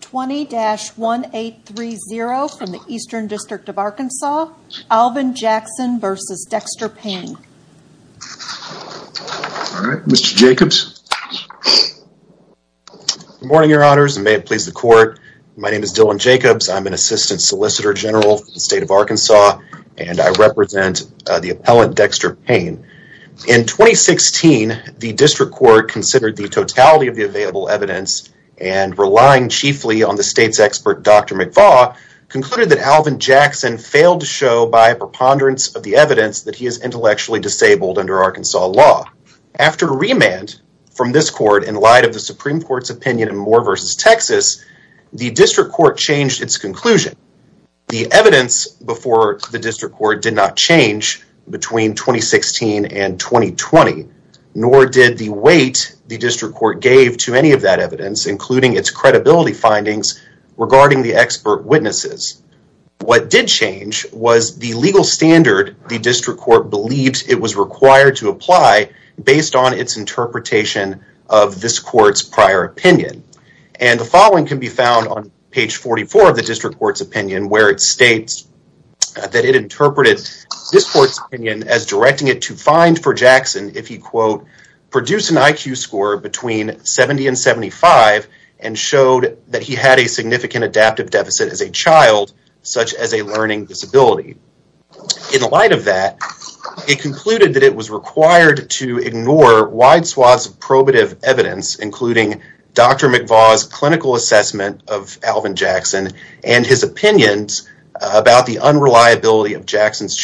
20-1830 from the Eastern District of Arkansas. Alvin Jackson v. Dexter Payne. All right, Mr. Jacobs. Good morning, your honors, and may it please the court. My name is Dylan Jacobs. I'm an assistant solicitor general for the state of Arkansas, and I represent the appellant, Dexter Payne. In 2016, the district court considered the totality of the available evidence, and relying chiefly on the state's expert, Dr. McFaugh, concluded that Alvin Jackson failed to show by a preponderance of the evidence that he is intellectually disabled under Arkansas law. After remand from this court in light of the Supreme Court's opinion in Moore v. Texas, the district court changed its conclusion. The evidence before the district court did not change between 2016 and 2020, nor did the weight the district court gave to any of that evidence, including its credibility findings regarding the expert witnesses. What did change was the legal standard the district court believed it was required to apply based on its interpretation of this court's prior opinion. And the following can be found on page 44 of the district court's opinion, where it states that it interpreted this court's opinion as directing it to find for Jackson, if he, quote, produced an IQ score between 70 and 75, and showed that he had a significant adaptive deficit as a child, such as a learning disability. In light of that, it concluded that it was required to ignore wide swaths of probative evidence, including Dr. McFaugh's clinical assessment of Alvin Jackson, and his opinions about the unreliability of Jackson's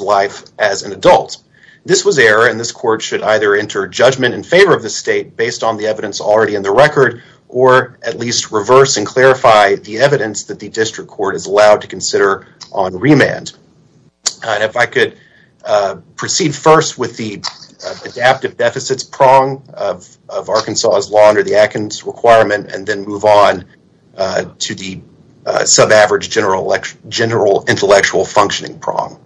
life as an adult. This was error, and this court should either enter judgment in favor of the state based on the evidence already in the record, or at least reverse and clarify the evidence that the district court is allowed to consider on remand. If I could proceed first with the adaptive deficits prong of Arkansas's law under the functioning prong.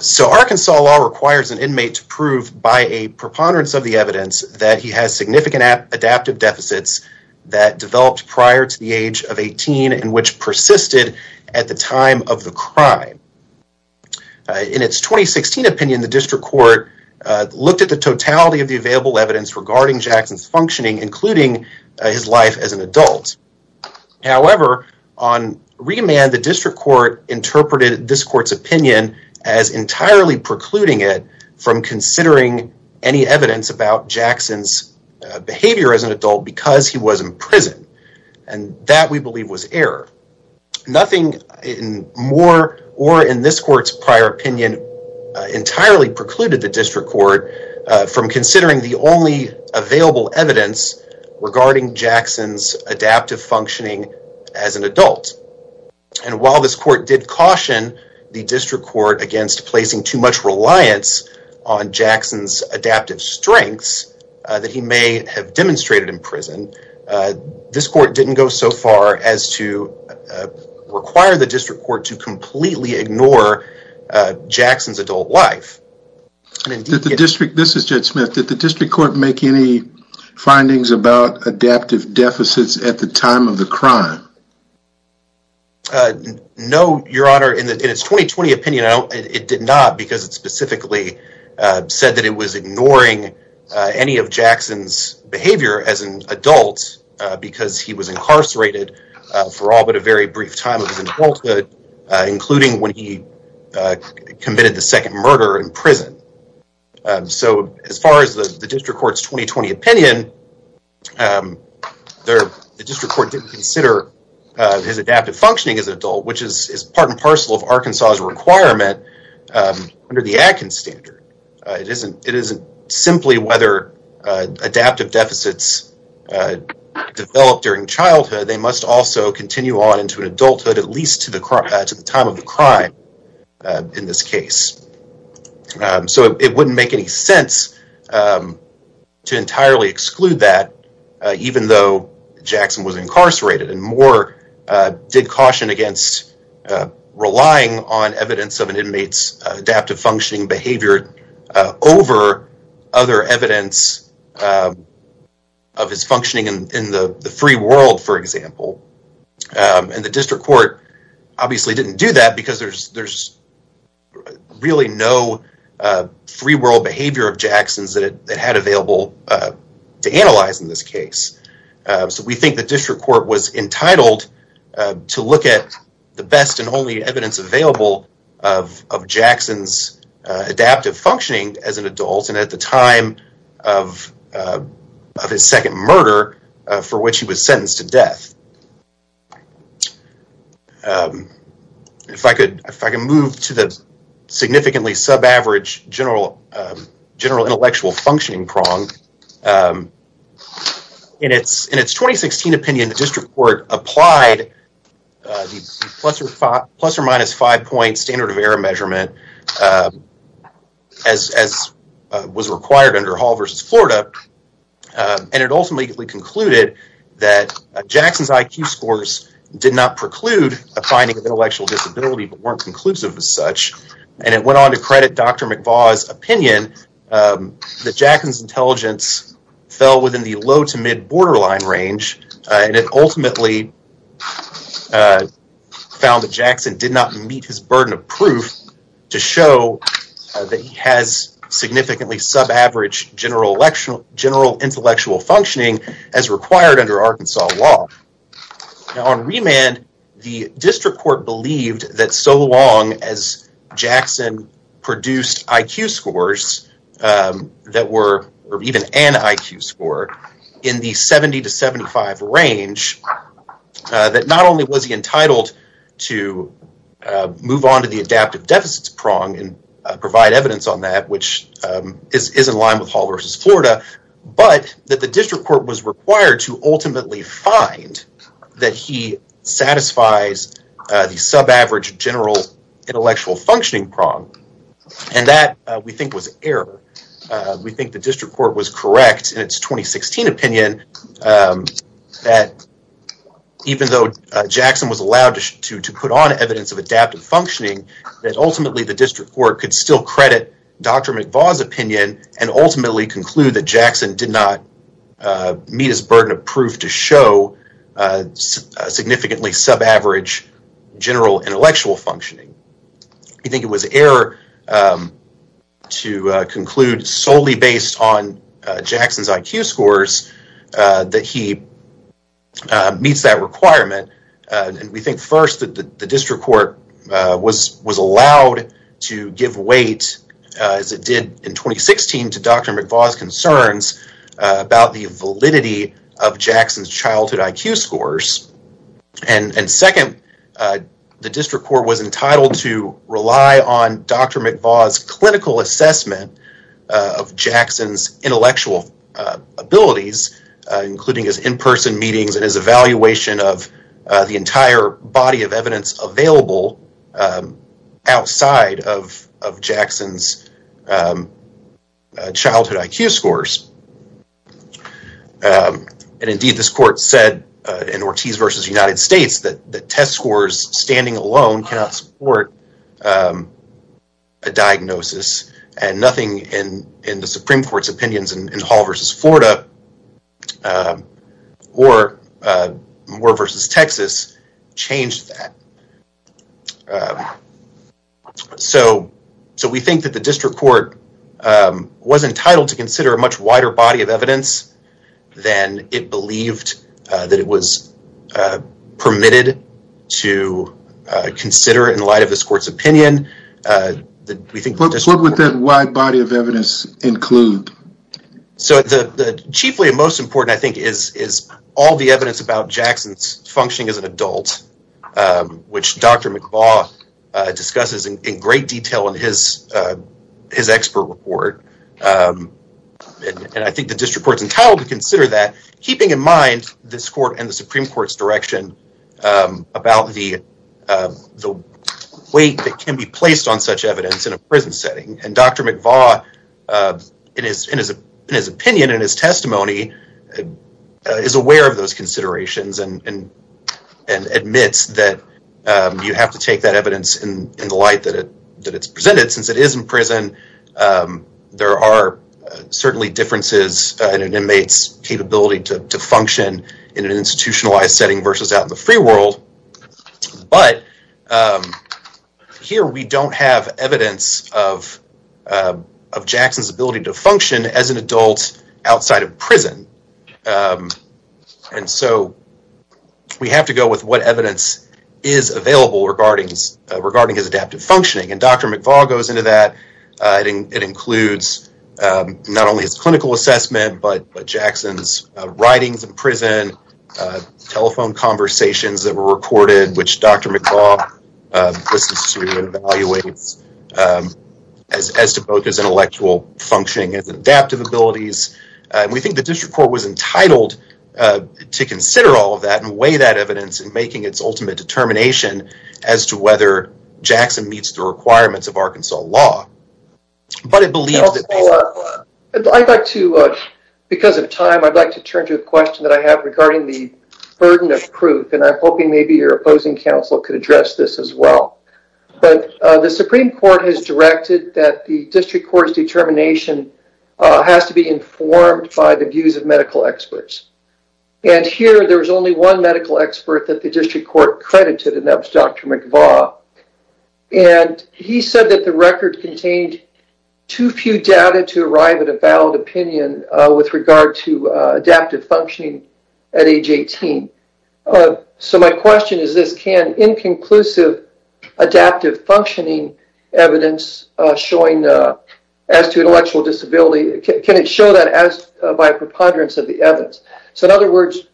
So Arkansas law requires an inmate to prove by a preponderance of the evidence that he has significant adaptive deficits that developed prior to the age of 18 and which persisted at the time of the crime. In its 2016 opinion, the district court looked at the totality of the available evidence regarding Jackson's functioning, including his life as an adult. However, on remand, the district court interpreted this court's opinion as entirely precluding it from considering any evidence about Jackson's behavior as an adult because he was in prison. And that we believe was error. Nothing more or in this court's prior opinion entirely precluded the district court from considering the only available evidence regarding Jackson's adaptive functioning as an adult. And while this court did caution the district court against placing too much reliance on Jackson's adaptive strengths that he may have demonstrated in prison, this court didn't go so far as to require the district court to completely ignore Jackson's adult life. Did the district, this is Jed Smith, did the district court make any findings about adaptive deficits at the time of the crime? No, your honor. In its 2020 opinion, it did not because it specifically said that it was ignoring any of Jackson's behavior as an adult because he was incarcerated for all but a very brief time of his adulthood, including when he committed the second murder in prison. So, as far as the district court's 2020 opinion, the district court didn't consider his adaptive functioning as an adult, which is part and parcel of Arkansas's requirement under the Adkins standard. It isn't simply whether adaptive deficits are developed during childhood, they must also continue on into adulthood at least to the time of the crime in this case. So, it wouldn't make any sense to entirely exclude that, even though Jackson was incarcerated. And Moore did caution against relying on evidence of an functioning in the free world, for example. And the district court obviously didn't do that because there's really no free world behavior of Jackson's that it had available to analyze in this case. So, we think the district court was entitled to look at the best and only evidence available of Jackson's adaptive functioning as an adult and at the time of his second murder for which he was sentenced to death. If I could move to the significantly sub-average general intellectual functioning prong. In its 2016 opinion, the district court applied the plus or minus five point standard of error measurement as was required under Hall versus Florida. And it ultimately concluded that Jackson's IQ scores did not preclude a finding of intellectual disability but weren't conclusive as such. And it went on to credit Dr. McVaugh's opinion that Jackson's intelligence fell within the low to mid-borderline range and it ultimately found that Jackson did not meet his burden of proof to show that he has significantly sub-average general intellectual functioning as required under Arkansas law. Now, on remand, the district court believed that so long as Jackson produced IQ scores that were or even an IQ score in the 70 to 75 range that not only was he entitled to move on to the adaptive deficits prong and provide evidence on that which is in line with Hall versus Florida but that the district court was required to ultimately find that he satisfies the sub-average general intellectual functioning prong and that we think was error. We think the district court was correct in its 2016 opinion that even though Jackson was allowed to put on evidence of adaptive functioning that ultimately the district court could still credit Dr. McVaugh's opinion and ultimately conclude that Jackson did not meet his burden of proof to show significantly sub-average general intellectual functioning. We think it was error to conclude solely based on Jackson's IQ scores that he meets that requirement and we think first that the district court was allowed to give weight as it did in 2016 to Dr. McVaugh's concerns about the validity of Jackson's childhood IQ scores and second, the district court was entitled to rely on Dr. McVaugh's clinical assessment of Jackson's intellectual abilities including his in-person meetings and his evaluation of the entire body of evidence available outside of Jackson's childhood IQ scores and indeed this court said in Ortiz versus United States that the test scores standing alone cannot support a diagnosis and nothing in the Supreme Court's opinions in Hall versus Florida or Moore versus Texas changed that. So we think that the district court was entitled to consider a much wider body of evidence than it believed that it was permitted to consider in light of this court's opinion. What would that wide body of evidence include? So the chiefly and most important I think is all the evidence about Jackson's functioning as an adult which Dr. McVaugh discusses in great detail in his expert report and I think the district court's entitled to consider that keeping in mind this court and the Supreme Court's direction about the weight that can be placed on such evidence in a prison setting and Dr. McVaugh in his opinion and his testimony is aware of those considerations and admits that you have to take that evidence in the light that it's presented since it is in prison. There are certainly differences in an inmate's capability to function in an institutionalized setting versus out in the free world but here we don't have evidence of Jackson's ability to function as an adult outside of prison and so we have to go with what evidence is available regarding his adaptive functioning and Dr. McVaugh goes into that. It includes not only his clinical assessment but Jackson's writings in prison, telephone conversations that were recorded which Dr. McVaugh listens to and evaluates as to both his intellectual functioning and his adaptive abilities and we think the district court was entitled to consider all of that and weigh that evidence in making its ultimate determination as to whether Jackson meets the requirements of the Supreme Court. I would like to turn to a question I have regarding the burden of proof and I'm hoping maybe your opposing counsel can address this as well. The Supreme Court has directed that the district court's determination has to be informed by the views of medical experts and here there is only one medical expert that the district court credited and that was Dr. McVaugh and he said that the record contained too few data to arrive at a valid opinion with regard to adaptive functioning at age 18. So my question is this, can inconclusive adaptive functioning evidence showing as to intellectual disability, can it show that as by a preponderance of the so in other words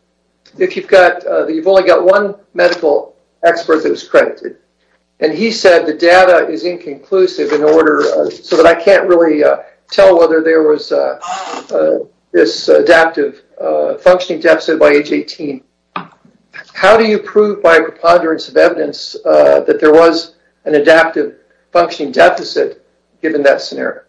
if you've got you've only got one medical expert that was credited and he said the data is inconclusive in order so that I can't really tell whether there was this adaptive functioning deficit by age 18. How do you prove by a preponderance of evidence that there was an adaptive functioning deficit given that scenario?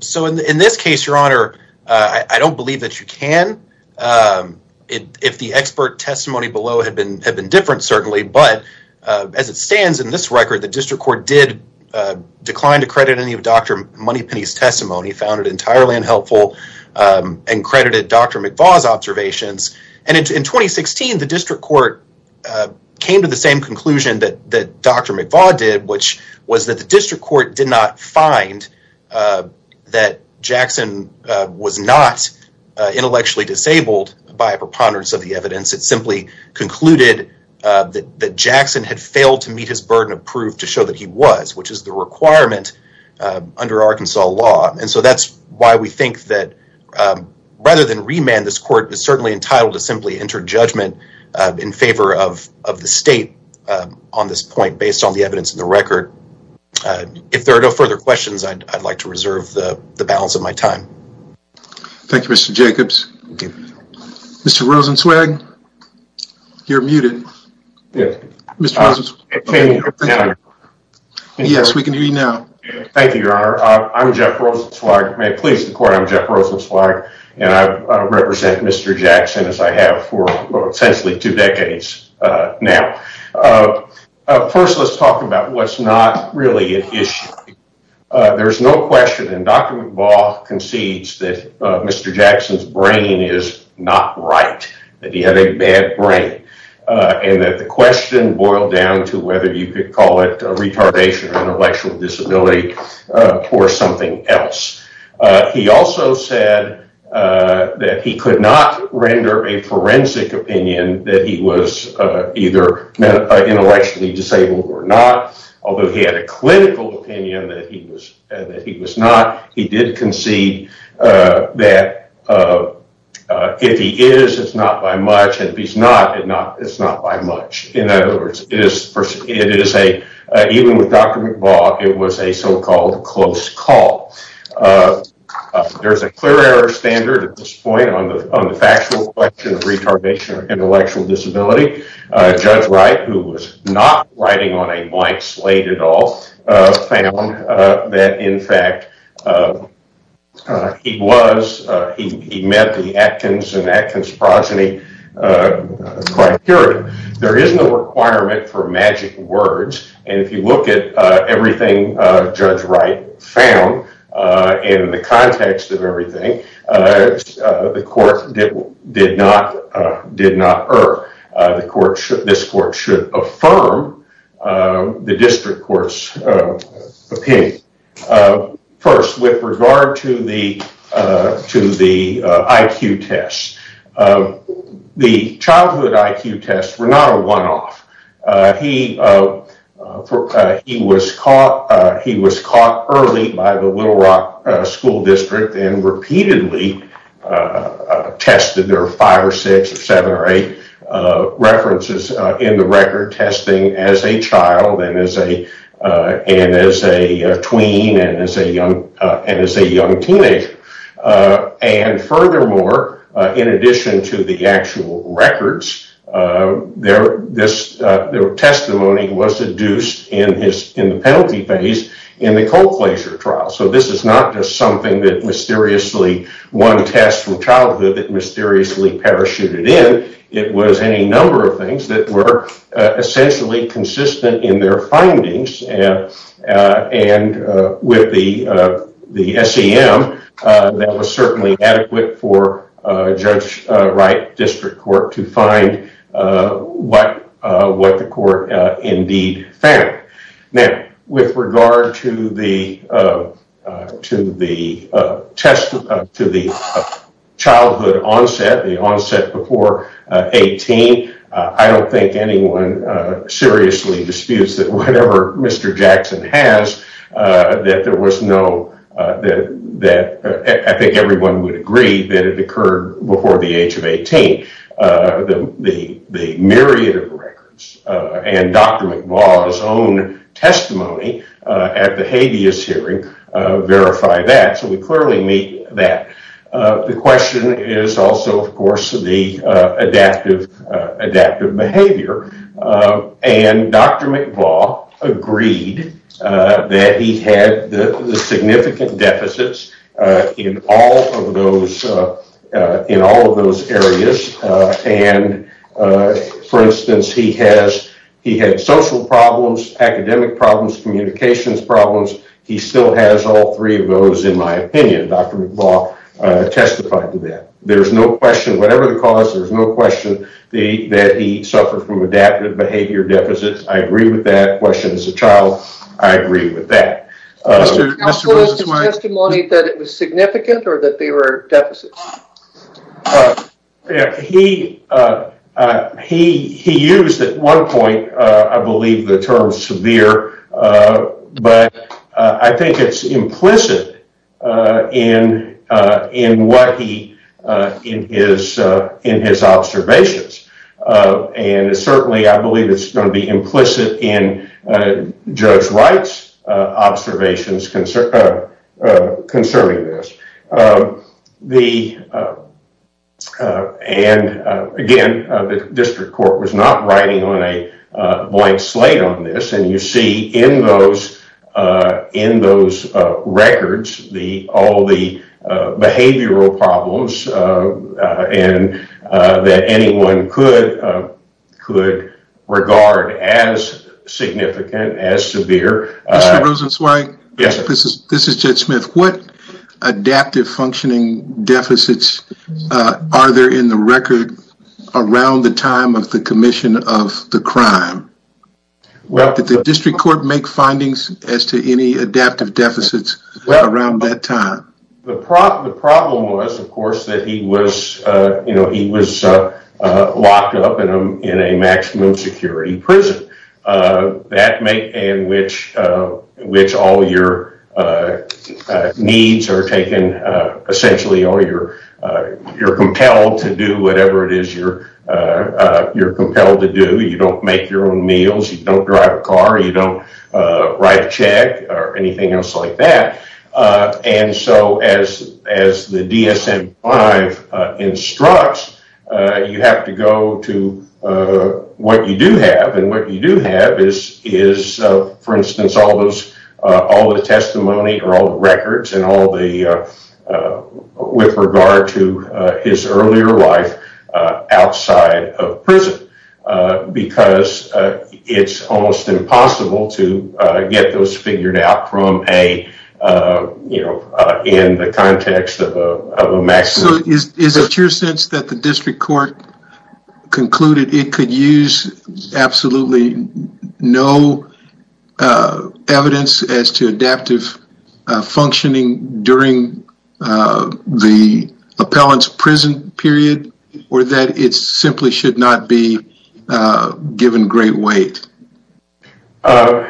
So in this case your honor I don't believe that you can. If the expert testimony below had been different certainly but as it stands in this record the district court did decline to credit any of Dr. Moneypenny's testimony, found it entirely unhelpful and credited Dr. McVaugh's observations and in 2016 the district court came to the same conclusion that Dr. McVaugh did which was that the district court did not find that Jackson was not intellectually disabled by a preponderance of the evidence. It simply concluded that Jackson had failed to meet his burden of proof to show that he was which is the requirement under Arkansas law and so that's why we think that rather than remand this court is certainly entitled to simply enter judgment in favor of the state on this point based on evidence in the record. If there are no further questions I'd like to reserve the balance of my time. Thank you Mr. Jacobs. Mr. Rosenzweig you're muted. Yes we can hear you now. Thank you your honor. I'm Jeff Rosenzweig. May it please the court I'm Jeff Rosenzweig and I represent Mr. McVaugh. First let's talk about what's not really an issue. There's no question and Dr. McVaugh concedes that Mr. Jackson's brain is not right. That he had a bad brain and that the question boiled down to whether you could call it a retardation of intellectual disability or something else. He also said that he could not render a forensic opinion that he was either intellectually disabled or not although he had a clinical opinion that he was not. He did concede that if he is it's not by much and if he's not it's not by much. In other words, it is a even with Dr. McVaugh it was a so-called close call. There's a clear error standard at this point on the factual question of retardation or intellectual disability. Judge Wright who was not writing on a blank slate at all found that in fact he met the Atkins and Atkins-Proseny criteria. There is no requirement for magic words and if you look at everything Judge Wright found in the context of everything the court did not did not err. The court should this court should affirm the district court's opinion first with regard to the IQ tests. The childhood IQ tests were not a one-off. He was caught early by the Little Rock School District and repeatedly tested. There are five or six or seven or eight references in the record testing as a child and as a and as a tween and as a young and as a young teenager. Furthermore, in addition to the actual records, this testimony was deduced in his in the penalty phase in the cold flasher trial. So this is not just something that mysteriously one test from childhood that mysteriously parachuted in. It was any number of things that were essentially consistent in their findings and and with the the SEM that was certainly adequate for Judge Wright district court to find what what the to the test to the childhood onset the onset before 18. I don't think anyone seriously disputes that whatever Mr. Jackson has that there was no that that I think everyone would agree that it occurred before the age of 18. The myriad of records and Dr. McMaul's own testimony at the hearing verify that. So we clearly meet that. The question is also of course the adaptive adaptive behavior. Dr. McMaul agreed that he had the significant deficits in all of those in all of those areas. For instance, he had social problems, academic problems, communications problems. He still has all three of those in my opinion. Dr. McMaul testified to that. There's no question whatever the cause there's no question the that he suffered from adaptive behavior deficits. I agree with that question as a child. I agree with that testimony that it was significant or that they were deficits. Uh yeah he uh uh he he used at one point uh I believe the term severe uh but I think it's implicit uh in uh in what he uh in his uh in his observations uh and certainly I believe it's going implicit in uh judge Wright's uh observations concerning this. The uh uh and uh again the district court was not writing on a uh blank slate on this and you see in those uh in those uh as significant as severe. Mr. Rosenzweig. Yes. This is this is Judge Smith. What adaptive functioning deficits uh are there in the record around the time of the commission of the crime? Well did the district court make findings as to any adaptive deficits around that time? The problem the problem was of course that he was uh you know he was uh locked up in a maximum security prison uh that may in which uh which all your uh uh needs are taken uh essentially or you're uh you're compelled to do whatever it is you're uh uh you're compelled to do. You don't make your own meals, you don't drive a car, you don't uh write a check or anything else like that uh and so as as the DSM-5 uh instructs uh you have to go to uh what you do have and what you do have is is uh for instance all those uh all the testimony or all the records and all the uh with regard to uh his earlier life uh outside of prison uh because uh it's almost impossible to get those figured out from a uh you know uh in the context of a maximum. So is is it your sense that the district court concluded it could use absolutely no uh evidence as to adaptive functioning during uh the appellant's prison period or that it simply should not be uh given great weight? Uh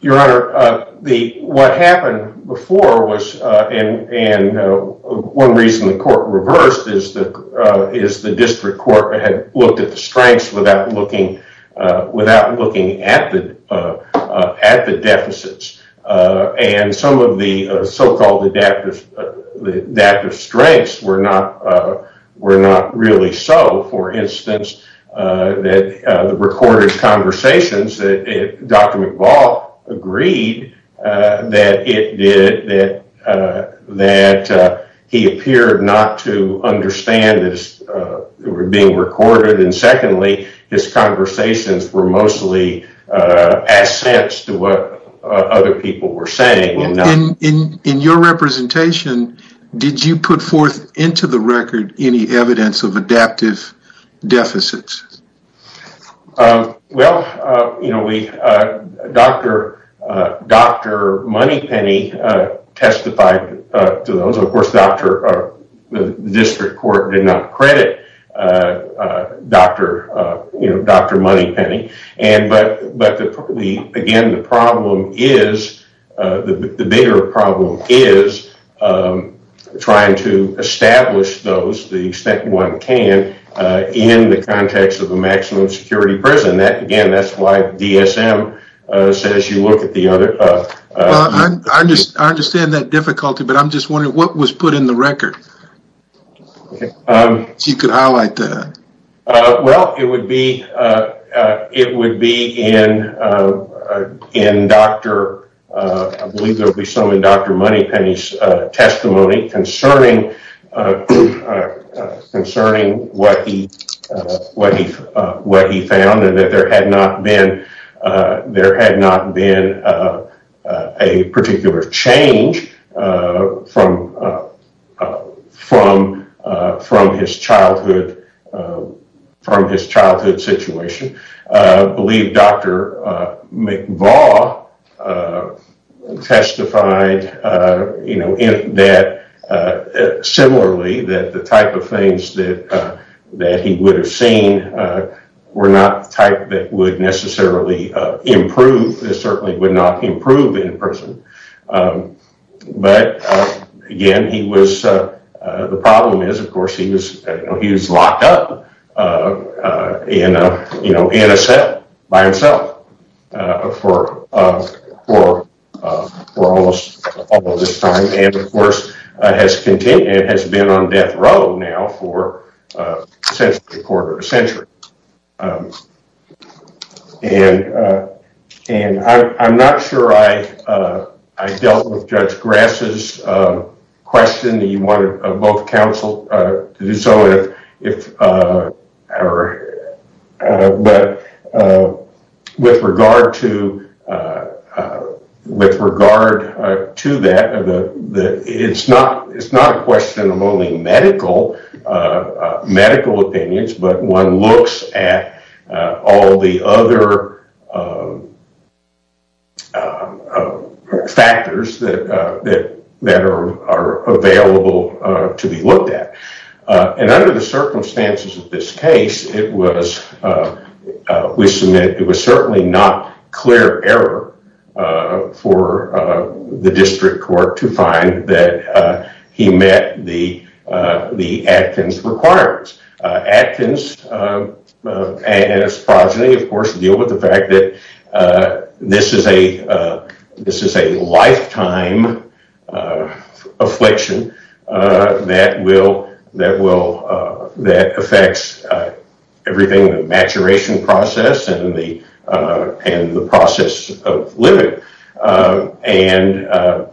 your honor uh the what happened before was uh and and uh one reason the court reversed is that uh is the district court had looked at the strengths without looking uh without looking at the uh uh at the deficits uh and some of the uh so-called adaptive adaptive strengths were not uh were not really so. For instance uh that uh the recorded conversations that Dr. McBall agreed uh that it did that uh that uh he appeared not to understand this uh were being recorded and secondly his conversations were mostly uh assents to what other people were saying. In your representation did you put forth into the record any evidence of adaptive deficits? Um well uh you know we uh Dr. uh Dr. Moneypenny uh testified uh to those of course Dr. uh the district court did not credit uh uh Dr. uh you know Dr. Moneypenny and but but the probably again the problem is uh the bigger problem is um trying to establish those the extent one can uh in the context of a maximum security prison that again that's why DSM uh says you look at the other uh. I just I understand that difficulty but I'm just wondering what was put in record um so you could highlight that. Uh well it would be uh uh it would be in uh in Dr. uh I believe there'll be some in Dr. Moneypenny's uh testimony concerning uh concerning what he uh what he uh what he found and that there had not been uh there had not been uh a particular change uh from uh from uh from his childhood uh from his childhood situation. Uh I believe Dr. uh McVaugh testified uh you know that uh similarly that the type of things that uh that he would have seen were not the type that would necessarily uh improve. This certainly would not improve in prison um but again he was uh the problem is of course he was you know he was locked up uh uh in a you know in a cell by himself uh for uh for uh for almost all of this time and of course uh has continued has been on death row now for uh since the quarter of a century um and uh and I'm not sure I uh I dealt with Judge Grass's uh question that you wanted both council uh to do so if uh or uh but uh with regard to uh uh with regard uh to that of the the it's not it's not a question of only medical uh medical opinions but one looks at all the other factors that uh that that are are available uh to be looked at uh and under the circumstances of this case it was uh we submit it was certainly not clear error uh for uh the district court to that uh he met the uh the Acton's requirements uh Acton's uh uh and his progeny of course deal with the fact that uh this is a uh this is a lifetime uh affliction uh that will that will that affects uh everything the maturation process and the uh and the process of living uh and uh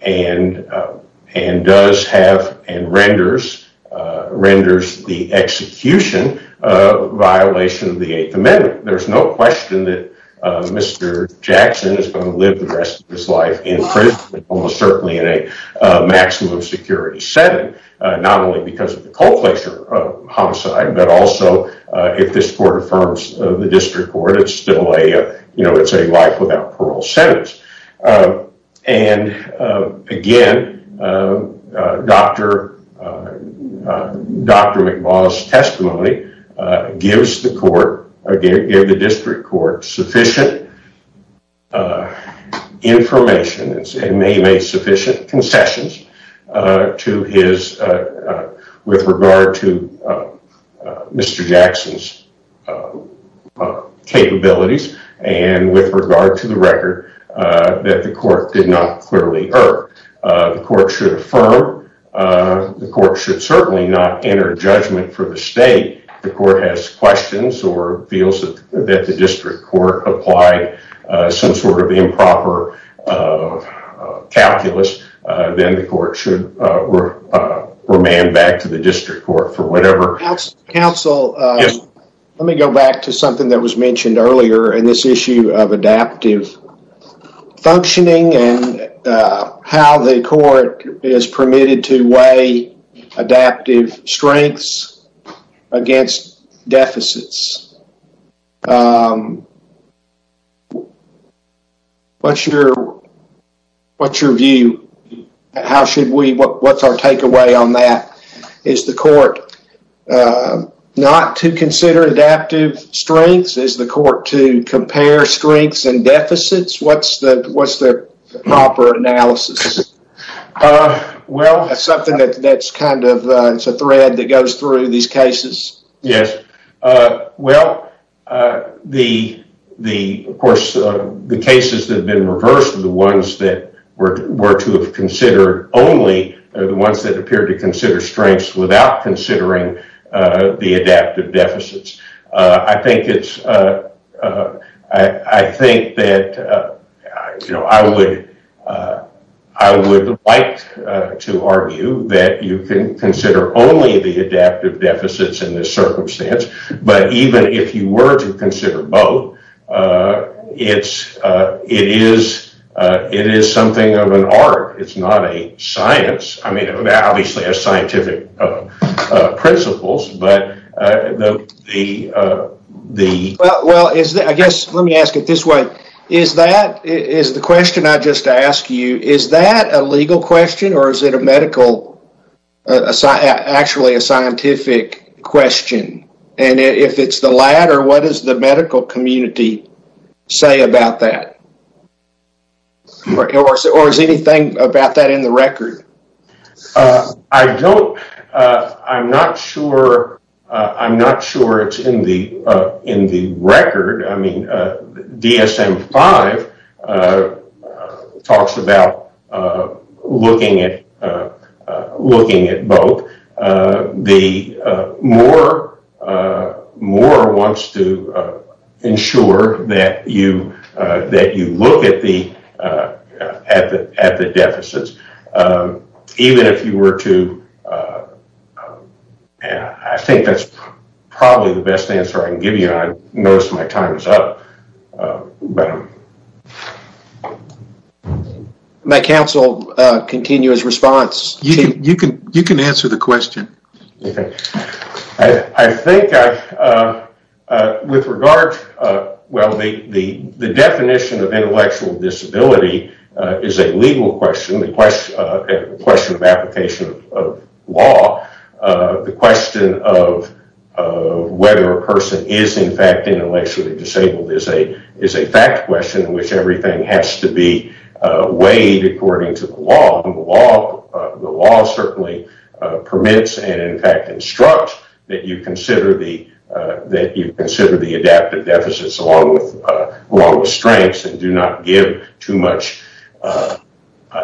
and uh and does have and renders uh renders the execution uh violation of the eighth amendment there's no question that uh Mr. Jackson is going to live the rest of his life in prison almost certainly in a uh maximum security setting uh not only because of the cold pleasure of homicide but also uh if this court affirms the district court it's still a you know it's a life without parole sentence uh and uh again uh Dr. Dr. McMaugh's testimony uh gives the court again give the district court sufficient information and may make sufficient concessions uh to his uh with regard to uh Mr. Jackson's uh capabilities and with regard to the record uh that the court did not clearly err uh the court should affirm uh the court should certainly not enter judgment for the state the court has questions or feels that the district court applied uh some sort of improper calculus uh then the court should uh remand back to the district court for whatever counsel uh let me go back to something that was mentioned earlier in this issue of adaptive functioning and uh how the court is permitted to weigh adaptive strengths against deficits um what's your what's your view how should we what's our takeaway on that is the court not to consider adaptive strengths is the court to compare strengths and deficits what's the what's the proper analysis uh well that's something that that's kind of uh it's a thread that goes through these cases yes uh well uh the the of course the cases that have been reversed the ones that were were to have considered only are the ones that appear to consider strengths without considering uh the adaptive deficits uh i think it's uh uh i i think that uh you know i would uh i would like to argue that you can consider only the adaptive deficits in this circumstance but even if you were to consider both uh it's uh it is uh it is something of an art it's not a scientific uh principles but uh the uh the well well is that i guess let me ask it this way is that is the question i just asked you is that a legal question or is it a medical actually a scientific question and if it's the latter what does the medical community say about that or is it or is anything about that in the record uh i don't uh i'm not sure uh i'm not sure it's in the uh in the record i mean uh dsm5 uh talks about uh looking at uh looking at both uh the uh more uh more wants to ensure that you uh that you look at the uh at the at the deficits um even if you were to uh and i think that's probably the best answer i can give you i notice my time is up but my council uh continuous response you can you can you can answer the question okay i i think i uh uh with regard uh well the the the definition of intellectual disability is a legal question the question uh question of application of law uh the question of of whether a person is in fact intellectually disabled is a is a fact question which everything has to be uh weighed according to the law and the law the law certainly uh permits and in fact instructs that you consider the uh that you consider the adaptive deficits along with uh along with strengths and do not give too much uh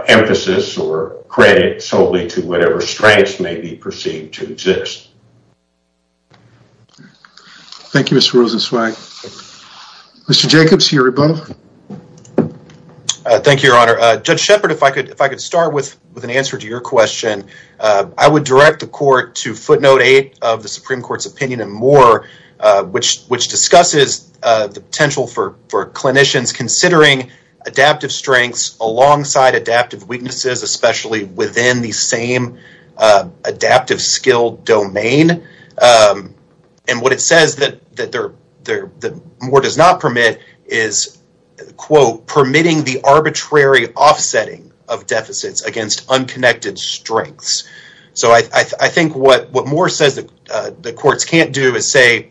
emphasis or credit solely to whatever strengths may be perceived to exist thank you mr rosen swag mr jacobs here above uh thank you your honor uh judge shepherd if i could if i could start with with an answer to your question uh i would direct the court to footnote eight of the supreme court's opinion and more uh which which discusses uh the clinicians considering adaptive strengths alongside adaptive weaknesses especially within the same uh adaptive skill domain um and what it says that that they're they're the more does not permit is quote permitting the arbitrary offsetting of deficits against unconnected strengths so i i think what what more says that uh the courts can't do is say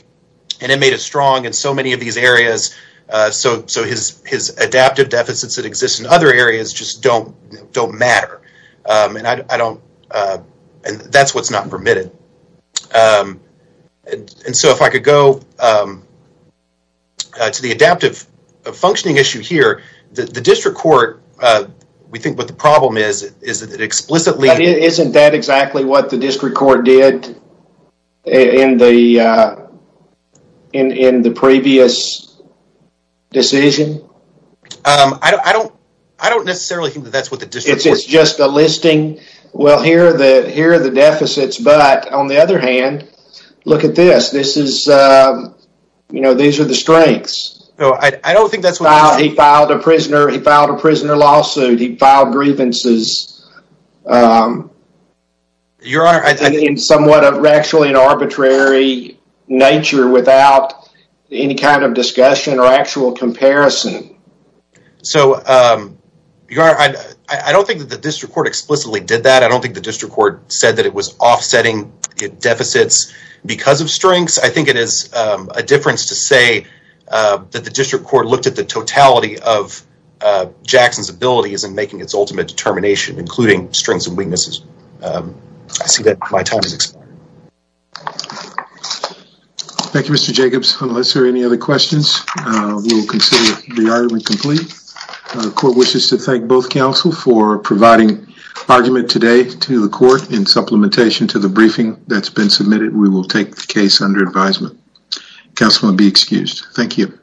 an inmate is strong in so many of these areas uh so so his his adaptive deficits that exist in other areas just don't don't matter um and i i don't uh and that's what's not permitted um and so if i could go um uh to the adaptive functioning issue here the district court uh we think what the problem is is that it explicitly isn't that exactly what the district court did in the uh in in the previous decision um i don't i don't necessarily think that that's what the district it's just a listing well here are the here are the deficits but on the other hand look at this this is uh you know these are the strengths no i don't think that's why he filed a prisoner he filed a prisoner lawsuit he filed grievances um your honor i think in somewhat of actually an arbitrary nature without any kind of discussion or actual comparison so um you are i i don't think that the district court explicitly did that i don't think the district court said that it was offsetting deficits because of strengths i think it is um a difference to say uh that the district court looked at the totality of uh jackson's is in making its ultimate determination including strengths and weaknesses um i see that my time is thank you mr jacobs unless there are any other questions uh we will consider the argument complete the court wishes to thank both counsel for providing argument today to the court in supplementation to the briefing that's been submitted we will take the case under advisement councilman be excused thank you